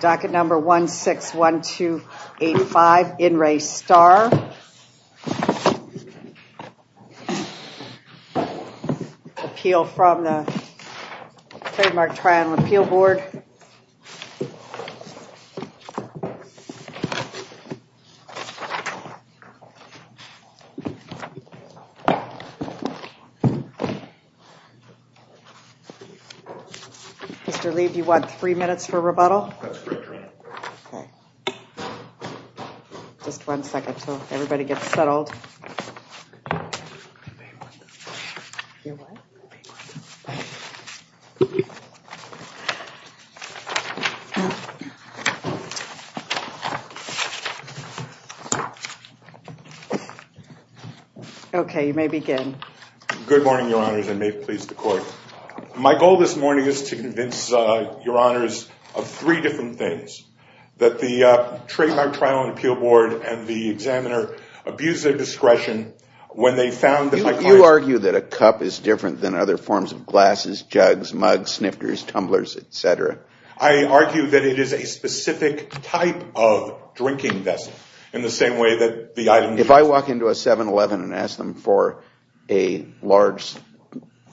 Docket number 161285, In Re Starr. Appeal from the Trademark Triennial Appeal Board. Mr. Lee, do you want three minutes for rebuttal? That's correct, Your Honor. Just one second until everybody gets settled. Okay, you may begin. Good morning, Your Honors, and may it please the Court. My goal this morning is to convince Your Honors of three different things. That the Trademark Triennial Appeal Board and the examiner abused their discretion when they found that my client's... You argue that a cup is different than other forms of glasses, jugs, mugs, snifters, tumblers, etc. I argue that it is a specific type of drinking vessel in the same way that the item... If I walk into a 7-Eleven and ask them for a large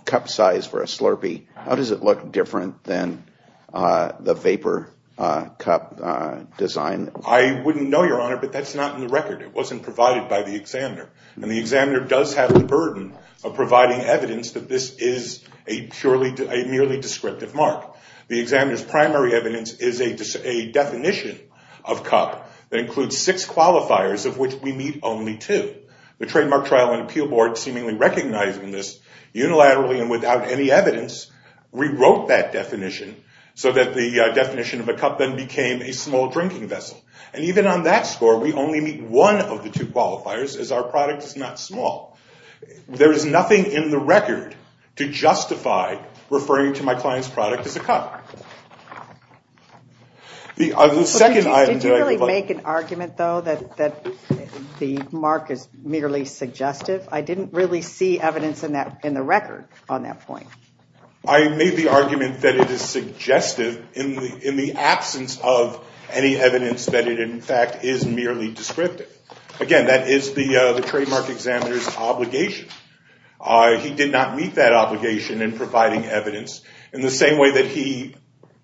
cup size for a Slurpee, how does it look different than the vapor cup design? I wouldn't know, Your Honor, but that's not in the record. It wasn't provided by the examiner. And the examiner does have the burden of providing evidence that this is a purely, a merely descriptive mark. The examiner's primary evidence is a definition of cup that includes six qualifiers of which we meet only two. The Trademark Triennial Appeal Board, seemingly recognizing this unilaterally and without any evidence, rewrote that definition so that the definition of a cup then became a small drinking vessel. And even on that score, we only meet one of the two qualifiers as our product is not small. There is nothing in the record to justify referring to my client's product as a cup. Did you really make an argument, though, that the mark is merely suggestive? I didn't really see evidence in the record on that point. I made the argument that it is suggestive in the absence of any evidence that it in fact is merely descriptive. Again, that is the trademark examiner's obligation. He did not meet that obligation in providing evidence in the same way that he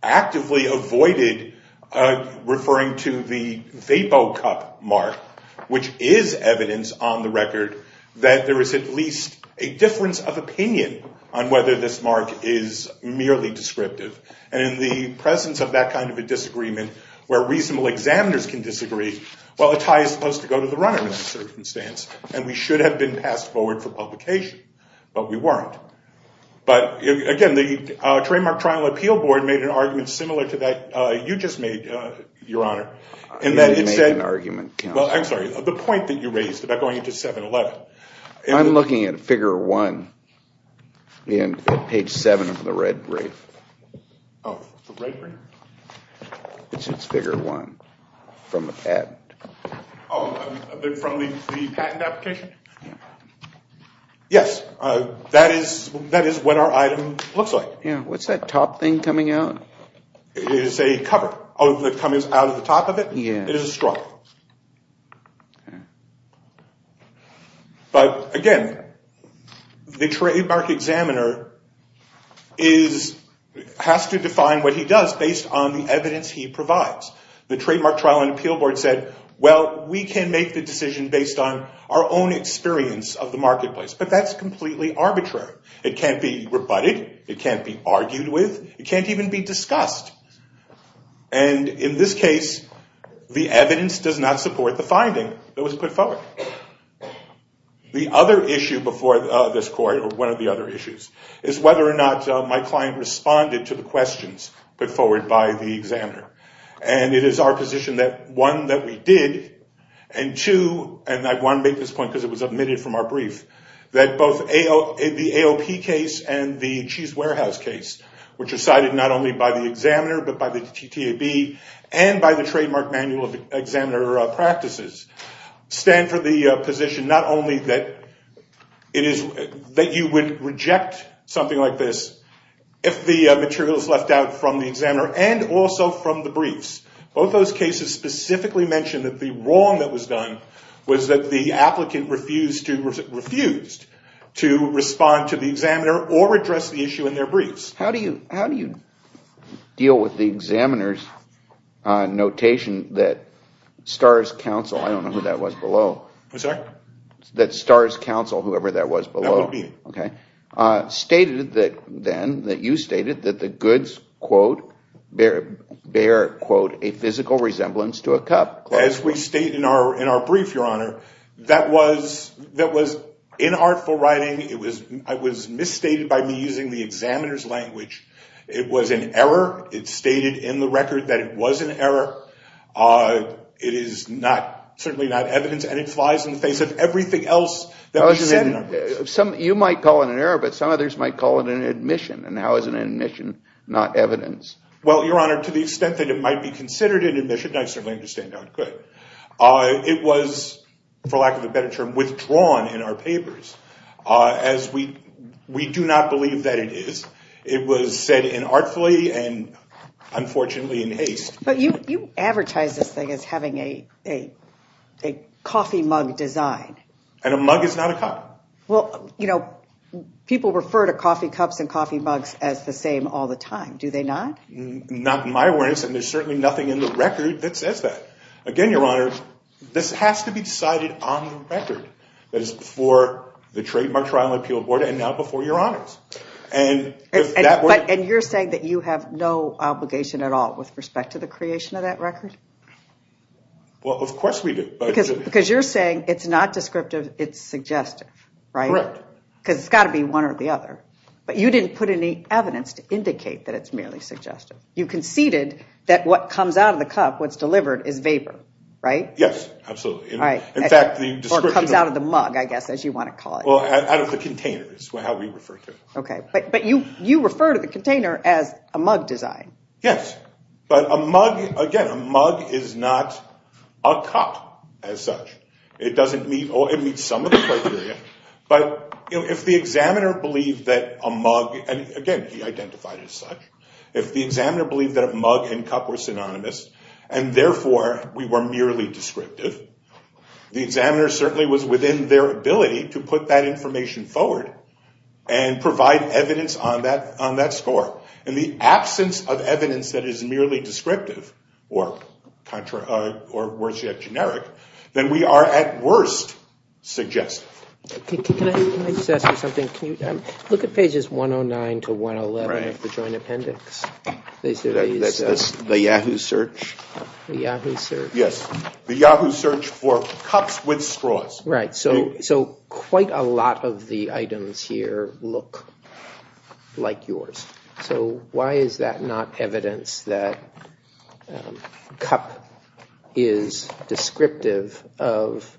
actively avoided referring to the VapoCup mark, which is evidence on the record that there is at least a difference of opinion on whether this mark is merely descriptive. And in the presence of that kind of a disagreement where reasonable examiners can disagree, well, a tie is supposed to go to the runner in that circumstance. And we should have been passed forward for publication, but we weren't. But again, the Trademark Trial Appeal Board made an argument similar to that you just made, Your Honor. You didn't make an argument, Counselor. Well, I'm sorry. The point that you raised about going into 7-Eleven. I'm looking at figure one in page seven of the red brief. Oh, the red brief? It's figure one from the patent. Oh, from the patent application? Yes. That is what our item looks like. What's that top thing coming out? It is a cover. Oh, that comes out of the top of it? Yeah. It is a straw. But again, the trademark examiner has to define what he does based on the evidence he provides. The Trademark Trial and Appeal Board said, well, we can make the decision based on our own experience of the marketplace. But that's completely arbitrary. It can't be rebutted. It can't be argued with. It can't even be discussed. And in this case, the evidence does not support the finding that was put forward. The other issue before this court, or one of the other issues, is whether or not my client responded to the questions put forward by the examiner. And it is our position that, one, that we did. And two, and I want to make this point because it was omitted from our brief, that both the AOP case and the Cheese Warehouse case, which are cited not only by the examiner but by the TTAB and by the Trademark Manual of Examiner Practices, stand for the position not only that you would reject something like this if the material is left out from the examiner and also from the briefs. Both those cases specifically mention that the wrong that was done was that the applicant refused to respond to the examiner or address the issue in their briefs. How do you deal with the examiner's notation that STARS Counsel, I don't know who that was below, that STARS Counsel, whoever that was below, stated then that you stated that the goods, quote, bear, quote, a physical resemblance to a cup? As we state in our brief, Your Honor, that was inartful writing. It was misstated by me using the examiner's language. It was an error. It stated in the record that it was an error. It is not, certainly not evidence, and it flies in the face of everything else that we said in our briefs. You might call it an error, but some others might call it an admission. And how is an admission not evidence? Well, Your Honor, to the extent that it might be considered an admission, I certainly understand how it could. It was, for lack of a better term, withdrawn in our papers as we do not believe that it is. It was said inartfully and unfortunately in haste. But you advertise this thing as having a coffee mug design. And a mug is not a cup. Well, you know, people refer to coffee cups and coffee mugs as the same all the time. Do they not? Not in my awareness, and there's certainly nothing in the record that says that. Again, Your Honor, this has to be decided on the record. That is before the Trademark Trial Appeal Board and now before Your Honors. And you're saying that you have no obligation at all with respect to the creation of that record? Well, of course we do. Because you're saying it's not descriptive, it's suggestive, right? Correct. Because it's got to be one or the other. But you didn't put any evidence to indicate that it's merely suggestive. You conceded that what comes out of the cup, what's delivered, is vapor, right? Yes, absolutely. Or comes out of the mug, I guess, as you want to call it. Well, out of the container is how we refer to it. Okay. But you refer to the container as a mug design. Yes. But a mug, again, a mug is not a cup as such. It meets some of the criteria, but if the examiner believed that a mug, and again, he identified as such, if the examiner believed that a mug and cup were synonymous, and therefore we were merely descriptive, the examiner certainly was within their ability to put that information forward and provide evidence on that score. In the absence of evidence that is merely descriptive, or worse yet, generic, then we are at worst suggestive. Can I just ask you something? Look at pages 109 to 111 of the Joint Appendix. The Yahoo search? The Yahoo search. The Yahoo search for cups with straws. Right. So quite a lot of the items here look like yours. So why is that not evidence that cup is descriptive of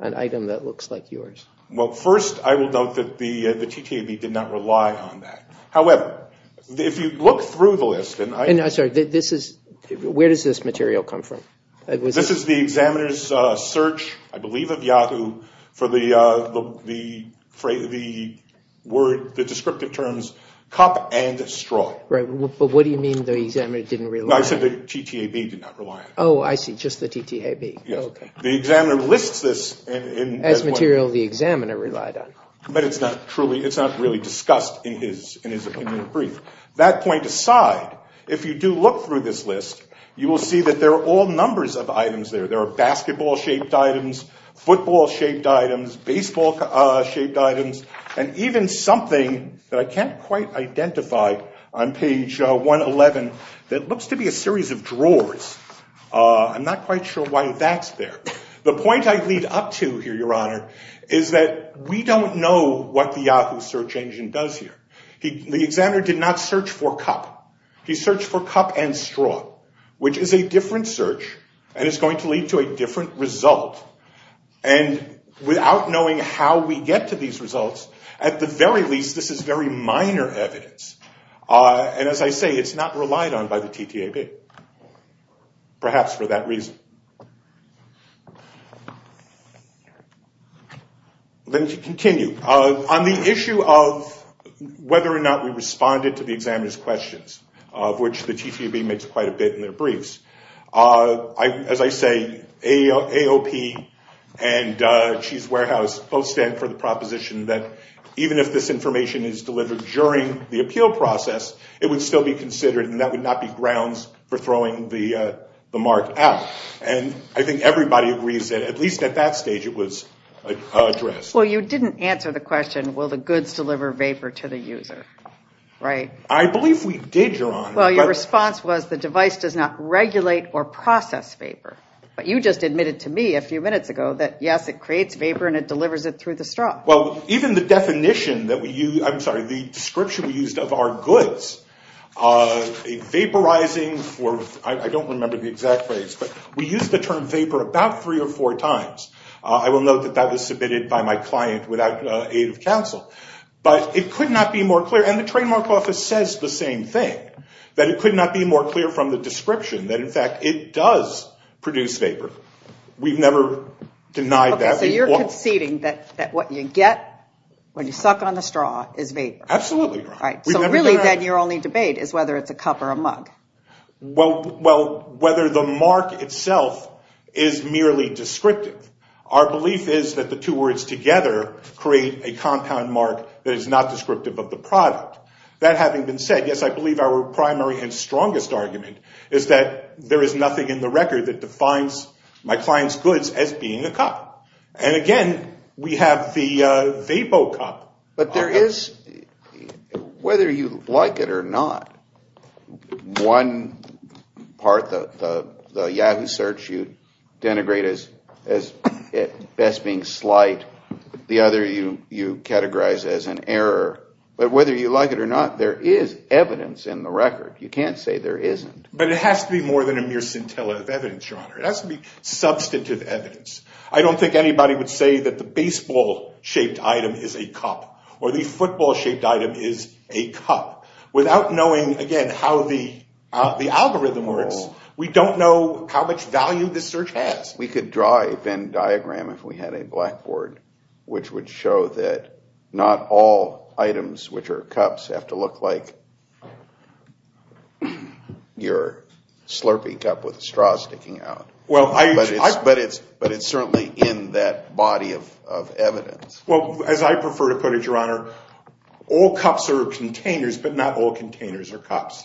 an item that looks like yours? Well, first, I will note that the TTAB did not rely on that. However, if you look through the list and I... I'm sorry. Where does this material come from? This is the examiner's search, I believe, of Yahoo for the descriptive terms cup and straw. Right. But what do you mean the examiner didn't rely on it? No, I said the TTAB did not rely on it. Oh, I see. Just the TTAB. Yes. The examiner lists this. As material the examiner relied on. But it's not really discussed in his brief. That point aside, if you do look through this list, you will see that there are all numbers of items there. There are basketball-shaped items, football-shaped items, baseball-shaped items, and even something that I can't quite identify on page 111 that looks to be a series of drawers. I'm not quite sure why that's there. The point I lead up to here, Your Honor, is that we don't know what the Yahoo search engine does here. The examiner did not search for cup. He searched for cup and straw, which is a different search and is going to lead to a different result. And without knowing how we get to these results, at the very least this is very minor evidence. And as I say, it's not relied on by the TTAB, perhaps for that reason. Let me continue. On the issue of whether or not we responded to the examiner's questions, of which the TTAB makes quite a bit in their briefs, as I say, AOP and Cheese Warehouse both stand for the proposition that even if this information is delivered during the appeal process, it would still be considered and that would not be grounds for throwing the mark out. And I think everybody agrees that at least at that stage it was addressed. Well, you didn't answer the question, will the goods deliver vapor to the user, right? I believe we did, Your Honor. Well, your response was the device does not regulate or process vapor. But you just admitted to me a few minutes ago that, yes, it creates vapor and it delivers it through the straw. Well, even the definition that we use, I'm sorry, the description we used of our goods, vaporizing, I don't remember the exact phrase, but we used the term vapor about three or four times. I will note that that was submitted by my client without aid of counsel. But it could not be more clear, and the trademark office says the same thing, that it could not be more clear from the description that, in fact, it does produce vapor. We've never denied that. Okay, so you're conceding that what you get when you suck on the straw is vapor. Absolutely, Your Honor. So really then your only debate is whether it's a cup or a mug. Well, whether the mark itself is merely descriptive. Our belief is that the two words together create a compound mark that is not descriptive of the product. That having been said, yes, I believe our primary and strongest argument is that there is nothing in the record that defines my client's goods as being a cup. And, again, we have the VapoCup. But there is, whether you like it or not, one part, the Yahoo search you denigrate as best being slight, the other you categorize as an error. But whether you like it or not, there is evidence in the record. You can't say there isn't. But it has to be more than a mere scintilla of evidence, Your Honor. It has to be substantive evidence. I don't think anybody would say that the baseball-shaped item is a cup or the football-shaped item is a cup. Without knowing, again, how the algorithm works, we don't know how much value this search has. We could draw a Venn diagram if we had a blackboard, which would show that not all items, which are cups, have to look like your slurpy cup with straw sticking out. But it's certainly in that body of evidence. Well, as I prefer to put it, Your Honor, all cups are containers but not all containers are cups.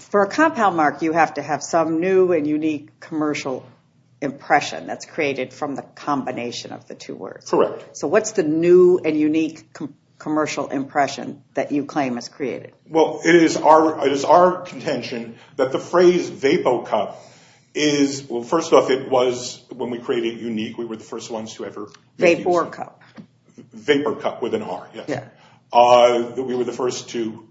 For a compound mark, you have to have some new and unique commercial impression that's created from the combination of the two words. Correct. So what's the new and unique commercial impression that you claim is created? Well, it is our contention that the phrase VapoCup is, well, first off, it was when we created Unique, we were the first ones to ever use it. VaporCup. VaporCup with an R, yes. We were the first to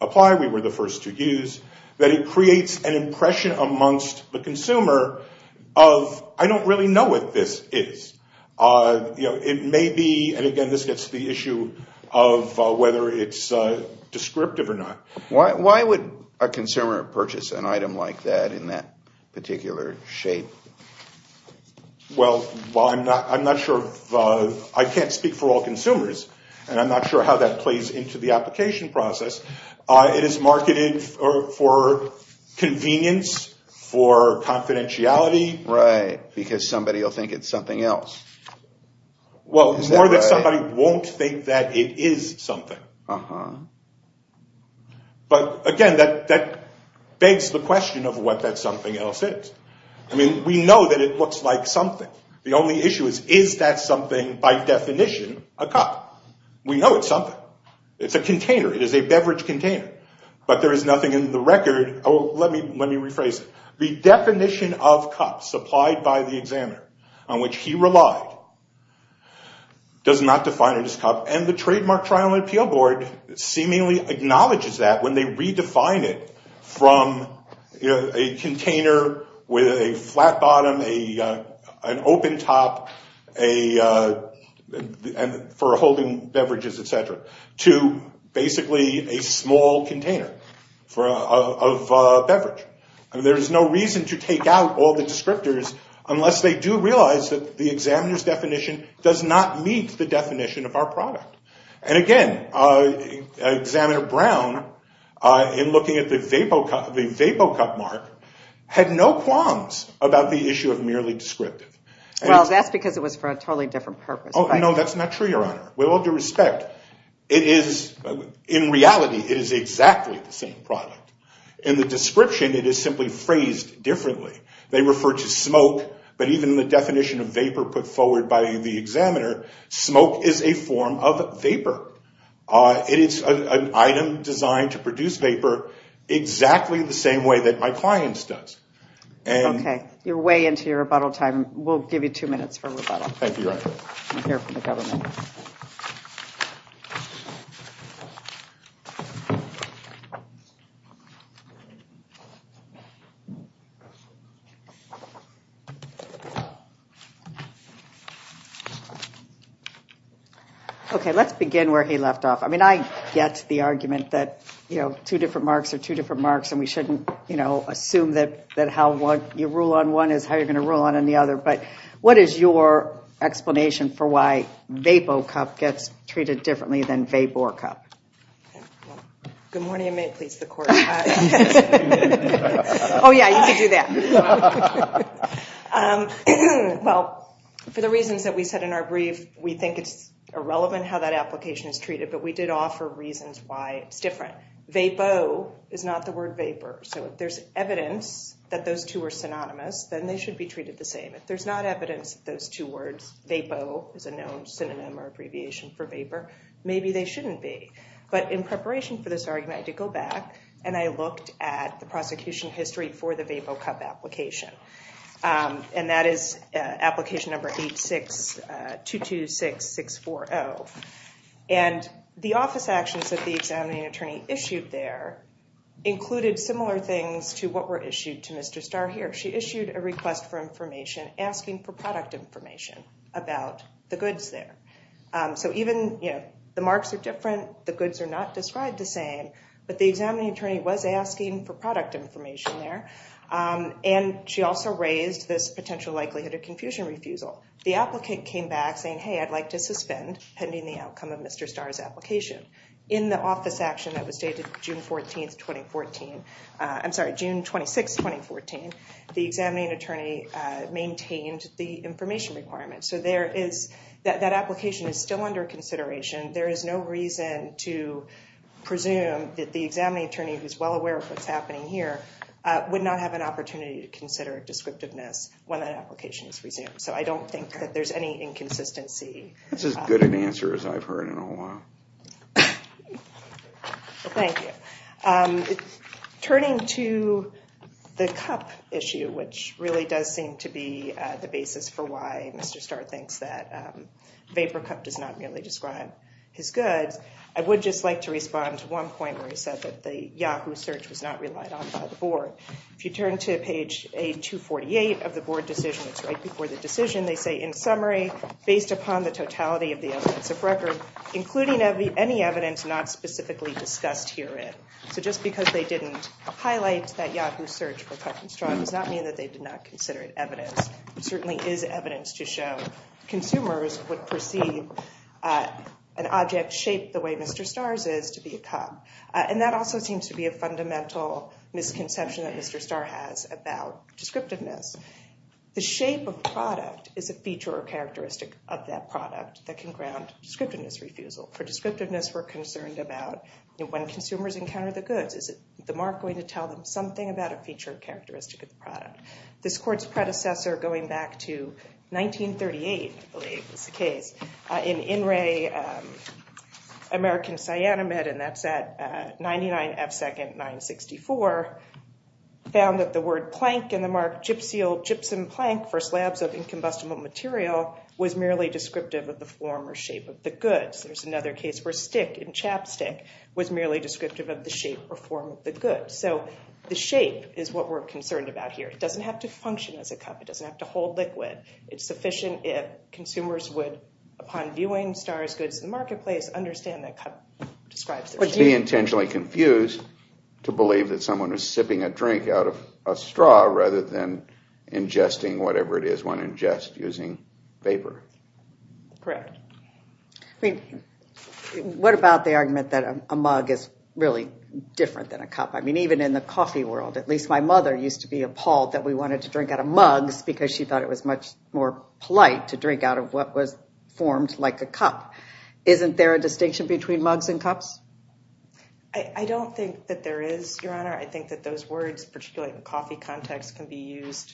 apply, we were the first to use, that it creates an impression amongst the consumer of, I don't really know what this is. It may be, and again, this gets to the issue of whether it's descriptive or not. Why would a consumer purchase an item like that in that particular shape? Well, I'm not sure, I can't speak for all consumers, and I'm not sure how that plays into the application process. It is marketed for convenience, for confidentiality. Right, because somebody will think it's something else. Well, more that somebody won't think that it is something. But, again, that begs the question of what that something else is. I mean, we know that it looks like something. The only issue is, is that something, by definition, a cup? We know it's something. It's a container, it is a beverage container. But there is nothing in the record, oh, let me rephrase it. The definition of cup supplied by the examiner on which he relied does not define it as a cup, and the Trademark Trial and Appeal Board seemingly acknowledges that when they redefine it from a container with a flat bottom, an open top for holding beverages, et cetera, to basically a small container of beverage. There is no reason to take out all the descriptors unless they do realize that the examiner's definition does not meet the definition of our product. And, again, Examiner Brown, in looking at the VapoCup mark, had no qualms about the issue of merely descriptive. Well, that's because it was for a totally different purpose. Oh, no, that's not true, Your Honor. With all due respect, it is, in reality, it is exactly the same product. In the description, it is simply phrased differently. They refer to smoke, but even in the definition of vapor put forward by the examiner, smoke is a form of vapor. It is an item designed to produce vapor exactly the same way that my client's does. Okay, you're way into your rebuttal time. We'll give you two minutes for rebuttal. Thank you, Your Honor. I'm here for the government. Okay, let's begin where he left off. I mean, I get the argument that, you know, two different marks are two different marks and we shouldn't, you know, assume that how you rule on one is how you're going to rule on any other. But what is your explanation for why VapoCup gets treated differently than VaporCup? Good morning, and may it please the Court. Oh, yeah, you can do that. Well, for the reasons that we said in our brief, we think it's irrelevant how that application is treated, but we did offer reasons why it's different. Vapo is not the word vapor. So if there's evidence that those two are synonymous, then they should be treated the same. If there's not evidence that those two words, Vapo, is a known synonym or abbreviation for vapor, maybe they shouldn't be. But in preparation for this argument, I did go back and I looked at the prosecution history for the VapoCup application, and that is application number 8226640. And the office actions that the examining attorney issued there included similar things to what were issued to Mr. Starr here. She issued a request for information asking for product information about the goods there. So even, you know, the marks are different, the goods are not described the same, but the examining attorney was asking for product information there, and she also raised this potential likelihood of confusion refusal. The applicant came back saying, hey, I'd like to suspend pending the outcome of Mr. Starr's application. In the office action that was dated June 14, 2014, I'm sorry, June 26, 2014, the examining attorney maintained the information requirement. So that application is still under consideration. There is no reason to presume that the examining attorney, who's well aware of what's happening here, would not have an opportunity to consider descriptiveness when that application is resumed. So I don't think that there's any inconsistency. That's as good an answer as I've heard in a while. Thank you. Turning to the cup issue, which really does seem to be the basis for why Mr. Starr thinks that vapor cup does not really describe his goods, I would just like to respond to one point where he said that the Yahoo search was not relied on by the board. If you turn to page 248 of the board decision, it's right before the decision, they say, in summary, based upon the totality of the evidence of record, including any evidence not specifically discussed herein. So just because they didn't highlight that Yahoo search for cup and straw does not mean that they did not consider it evidence. It certainly is evidence to show consumers would perceive an object shaped the way Mr. Starr's is to be a cup. And that also seems to be a fundamental misconception that Mr. Starr has about descriptiveness. The shape of the product is a feature or characteristic of that product that can ground descriptiveness refusal. For descriptiveness, we're concerned about when consumers encounter the goods, is the mark going to tell them something about a feature or characteristic of the product? This court's predecessor, going back to 1938, I believe was the case, in In Re American Cyanamid, and that's at 99 F second 964, found that the word plank and the mark gypsum plank for slabs of incombustible material was merely descriptive of the form or shape of the goods. There's another case where stick and chapstick was merely descriptive of the shape or form of the goods. So the shape is what we're concerned about here. It doesn't have to function as a cup. It doesn't have to hold liquid. It's sufficient if consumers would, upon viewing Starr's goods in the marketplace, understand that cup describes the shape. But she intentionally confused to believe that someone is sipping a drink out of a straw rather than ingesting whatever it is one ingests using vapor. Correct. I mean, what about the argument that a mug is really different than a cup? I mean, even in the coffee world, at least my mother used to be appalled that we wanted to drink out of mugs because she thought it was much more polite to drink out of what was formed like a cup. Isn't there a distinction between mugs and cups? I don't think that there is, Your Honor. I think that those words, particularly in the coffee context, can be used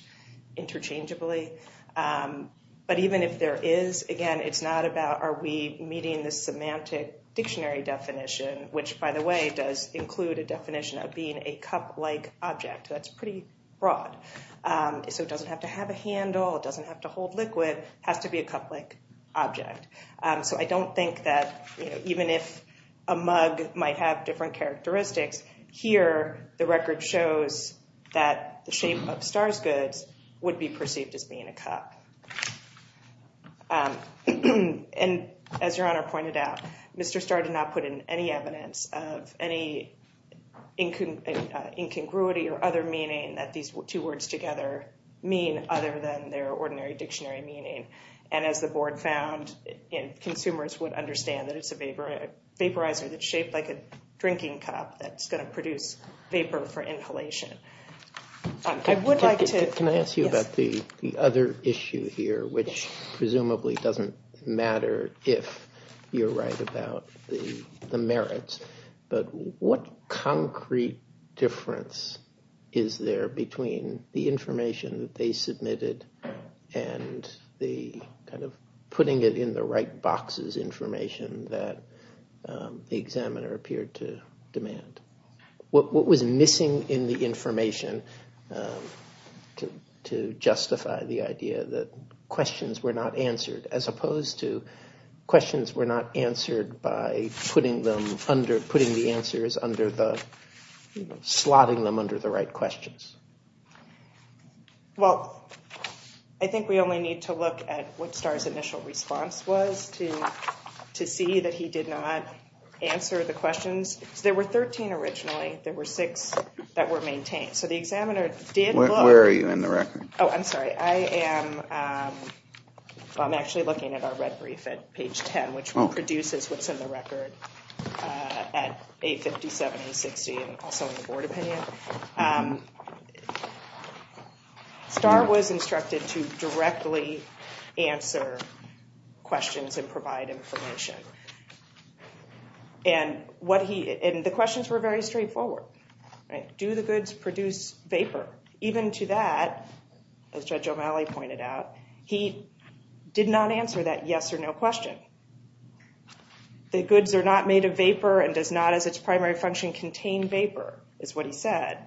interchangeably. But even if there is, again, it's not about are we meeting the semantic dictionary definition, which, by the way, does include a definition of being a cup-like object. That's pretty broad. So it doesn't have to have a handle. It doesn't have to hold liquid. It has to be a cup-like object. So I don't think that even if a mug might have different characteristics, here the record shows that the shape of Starr's goods would be perceived as being a cup. And as Your Honor pointed out, Mr. Starr did not put in any evidence of any incongruity or other meaning that these two words together mean other than their ordinary dictionary meaning. And as the board found, consumers would understand that it's a vaporizer that's shaped like a drinking cup that's going to produce vapor for inhalation. Can I ask you about the other issue here, which presumably doesn't matter if you're right about the merits, but what concrete difference is there between the information that they submitted and the kind of putting it in the right boxes information that the examiner appeared to demand? What was missing in the information to justify the idea that questions were not answered as opposed to questions were not answered by putting the answers under the right questions? Well, I think we only need to look at what Starr's initial response was to see that he did not answer the questions. There were 13 originally. There were six that were maintained. Where are you in the record? Oh, I'm sorry. I am actually looking at our red brief at page 10, which produces what's in the record at 850, 760, and also in the board opinion. Starr was instructed to directly answer questions and provide information. And the questions were very straightforward. Do the goods produce vapor? Even to that, as Judge O'Malley pointed out, he did not answer that yes or no question. The goods are not made of vapor and does not, as its primary function, contain vapor, is what he said.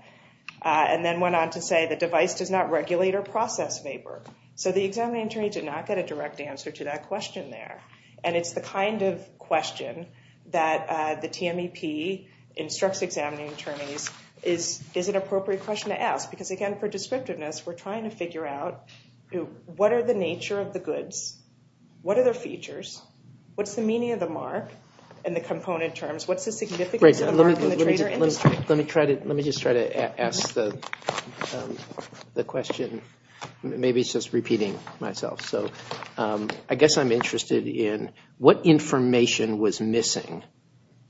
And then went on to say the device does not regulate or process vapor. So the examining attorney did not get a direct answer to that question there. And it's the kind of question that the TMEP instructs examining attorneys is an appropriate question to ask. Because, again, for descriptiveness, we're trying to figure out what are the nature of the goods? What are their features? What's the meaning of the mark in the component terms? What's the significance of the mark in the trade or industry? Let me just try to ask the question. Maybe it's just repeating myself. So I guess I'm interested in what information was missing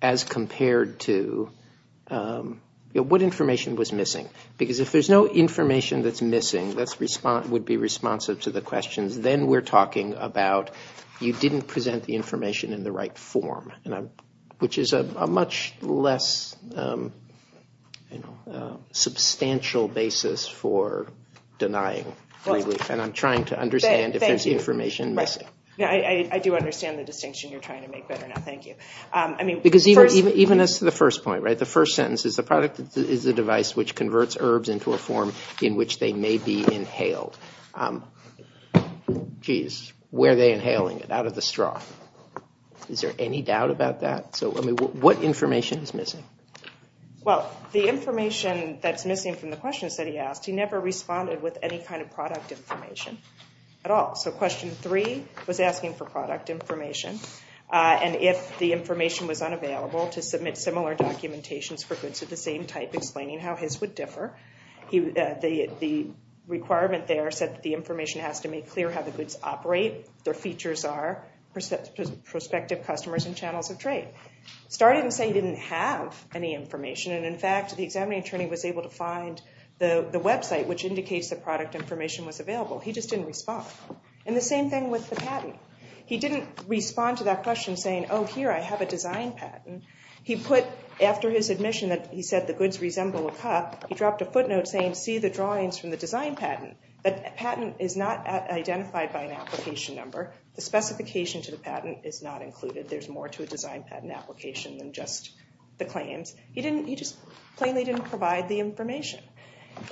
as compared to – what information was missing? Because if there's no information that's missing that would be responsive to the questions, then we're talking about you didn't present the information in the right form, which is a much less substantial basis for denying relief. And I'm trying to understand if there's information missing. I do understand the distinction you're trying to make better now. Thank you. Because even as to the first point, the first sentence is, the product is a device which converts herbs into a form in which they may be inhaled. Jeez, were they inhaling it out of the straw? Is there any doubt about that? So what information is missing? Well, the information that's missing from the questions that he asked, he never responded with any kind of product information at all. So question three was asking for product information, and if the information was unavailable to submit similar documentations for goods of the same type, explaining how his would differ. The requirement there said that the information has to make clear how the goods operate, their features are, prospective customers and channels of trade. Started in saying he didn't have any information, and in fact, the examining attorney was able to find the website, which indicates the product information was available. He just didn't respond. And the same thing with the patent. He didn't respond to that question saying, oh, here, I have a design patent. He put, after his admission that he said the goods resemble a cup, he dropped a footnote saying, see the drawings from the design patent. The patent is not identified by an application number. The specification to the patent is not included. There's more to a design patent application than just the claims. He just plainly didn't provide the information.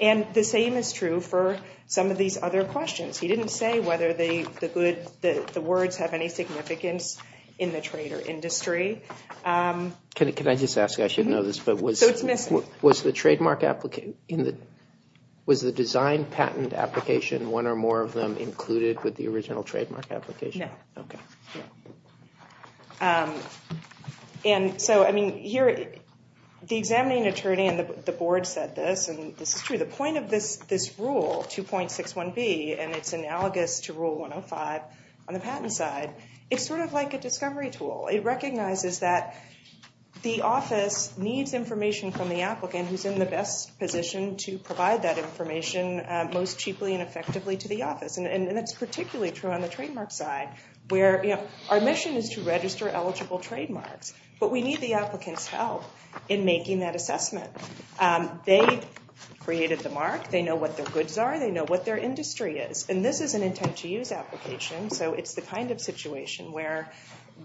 And the same is true for some of these other questions. He didn't say whether the words have any significance in the trade or industry. Can I just ask? I should know this, but was the design patent application, one or more of them included with the original trademark application? No. Okay. And so, I mean, here, the examining attorney and the board said this, and this is true, the point of this rule, 2.61B, and it's analogous to Rule 105 on the patent side, it's sort of like a discovery tool. It recognizes that the office needs information from the applicant who's in the best position to provide that information most cheaply and effectively to the office. And that's particularly true on the trademark side, where our mission is to register eligible trademarks, but we need the applicant's help in making that assessment. They created the mark. They know what their goods are. They know what their industry is. And this is an intent-to-use application, so it's the kind of situation where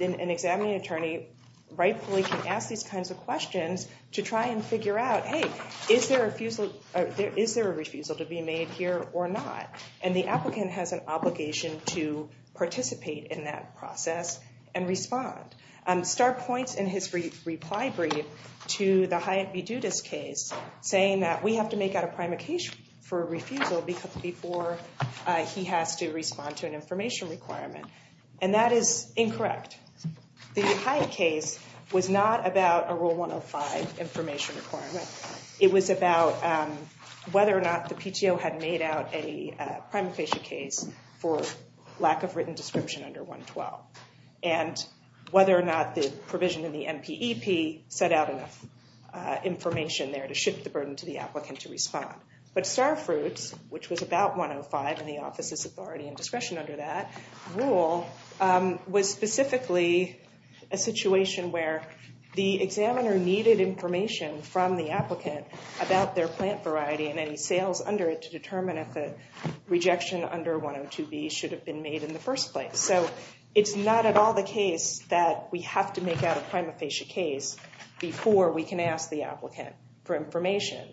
an examining attorney rightfully can ask these kinds of questions to try and figure out, hey, is there a refusal to be made here or not? And the applicant has an obligation to participate in that process and respond. Starr points in his reply brief to the Hyatt v. Dudas case, saying that we have to make out a prime occasion for refusal before he has to respond to an information requirement, and that is incorrect. The Hyatt case was not about a Rule 105 information requirement. It was about whether or not the PTO had made out a prime occasion case for lack of written description under 112, and whether or not the provision in the NPEP set out enough information there to shift the burden to the applicant to respond. But Starr fruits, which was about 105, and the office's authority and discretion under that rule, was specifically a situation where the examiner needed information from the applicant about their plant variety and any sales under it to determine if a rejection under 102B should have been made in the first place. So it's not at all the case that we have to make out a prime occasion case before we can ask the applicant for information.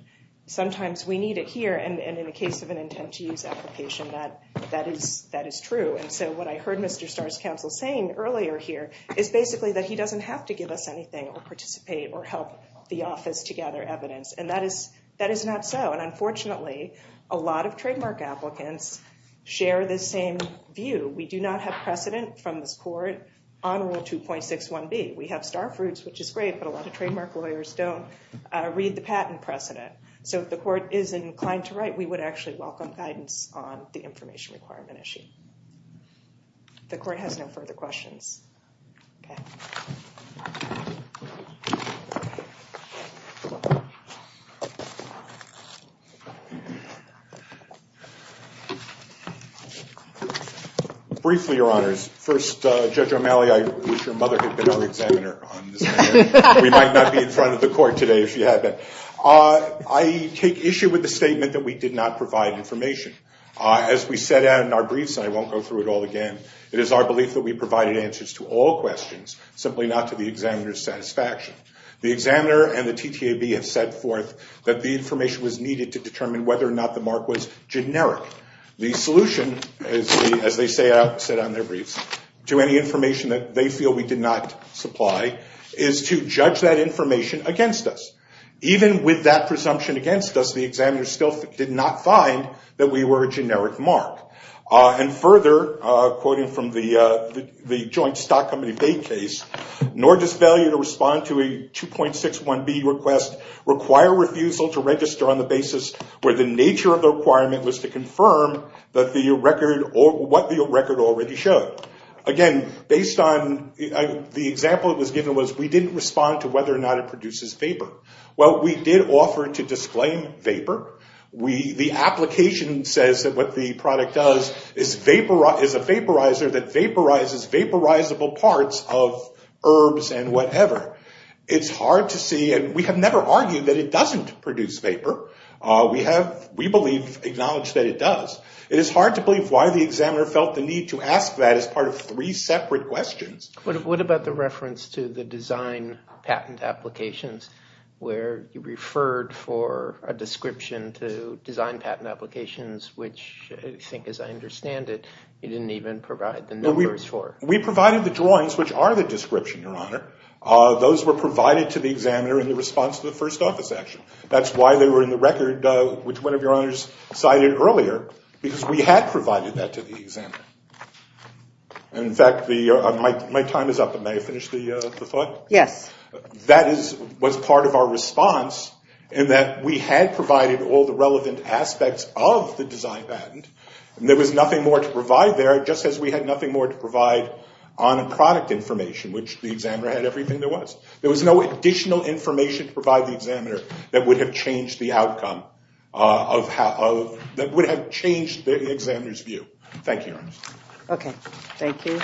Sometimes we need it here, and in the case of an intent to use application, that is true. And so what I heard Mr. Starr's counsel saying earlier here is basically that he doesn't have to give us anything or participate or help the office to gather evidence, and that is not so. And unfortunately, a lot of trademark applicants share this same view. We do not have precedent from this court on Rule 2.61B. We have Starr fruits, which is great, but a lot of trademark lawyers don't read the patent precedent. So if the court is inclined to write, we would actually welcome guidance on the information requirement issue. The court has no further questions. Briefly, Your Honors. First, Judge O'Malley, I wish your mother had been our examiner on this matter. We might not be in front of the court today if you had been. I take issue with the statement that we did not provide information. As we said in our briefs, and I won't go through it all again, it is our belief that we provided answers to all questions, simply not to the examiner's satisfaction. The examiner and the TTAB have set forth that the information was needed to determine whether or not the mark was generic. The solution, as they set out in their briefs, to any information that they feel we did not supply is to judge that information against us. Even with that presumption against us, the examiner still did not find that we were a generic mark. And further, quoting from the Joint Stock Company vague case, nor does failure to respond to a 2.61B request require refusal to register on the basis where the nature of the requirement was to confirm what the record already showed. Again, based on the example that was given, we didn't respond to whether or not it produces favor. Well, we did offer to disclaim favor. The application says that what the product does is a vaporizer that vaporizes vaporizable parts of herbs and whatever. It's hard to see, and we have never argued that it doesn't produce favor. We believe, acknowledge that it does. It is hard to believe why the examiner felt the need to ask that as part of three separate questions. What about the reference to the design patent applications where you referred for a description to design patent applications, which I think, as I understand it, you didn't even provide the numbers for? We provided the drawings, which are the description, Your Honor. Those were provided to the examiner in response to the first office action. That's why they were in the record, which one of Your Honors cited earlier, because we had provided that to the examiner. In fact, my time is up. May I finish the thought? Yes. That was part of our response in that we had provided all the relevant aspects of the design patent, and there was nothing more to provide there, just as we had nothing more to provide on product information, which the examiner had everything there was. There was no additional information to provide the examiner that would have changed the outcome, that would have changed the examiner's view. Thank you, Your Honor. Okay. Thank you.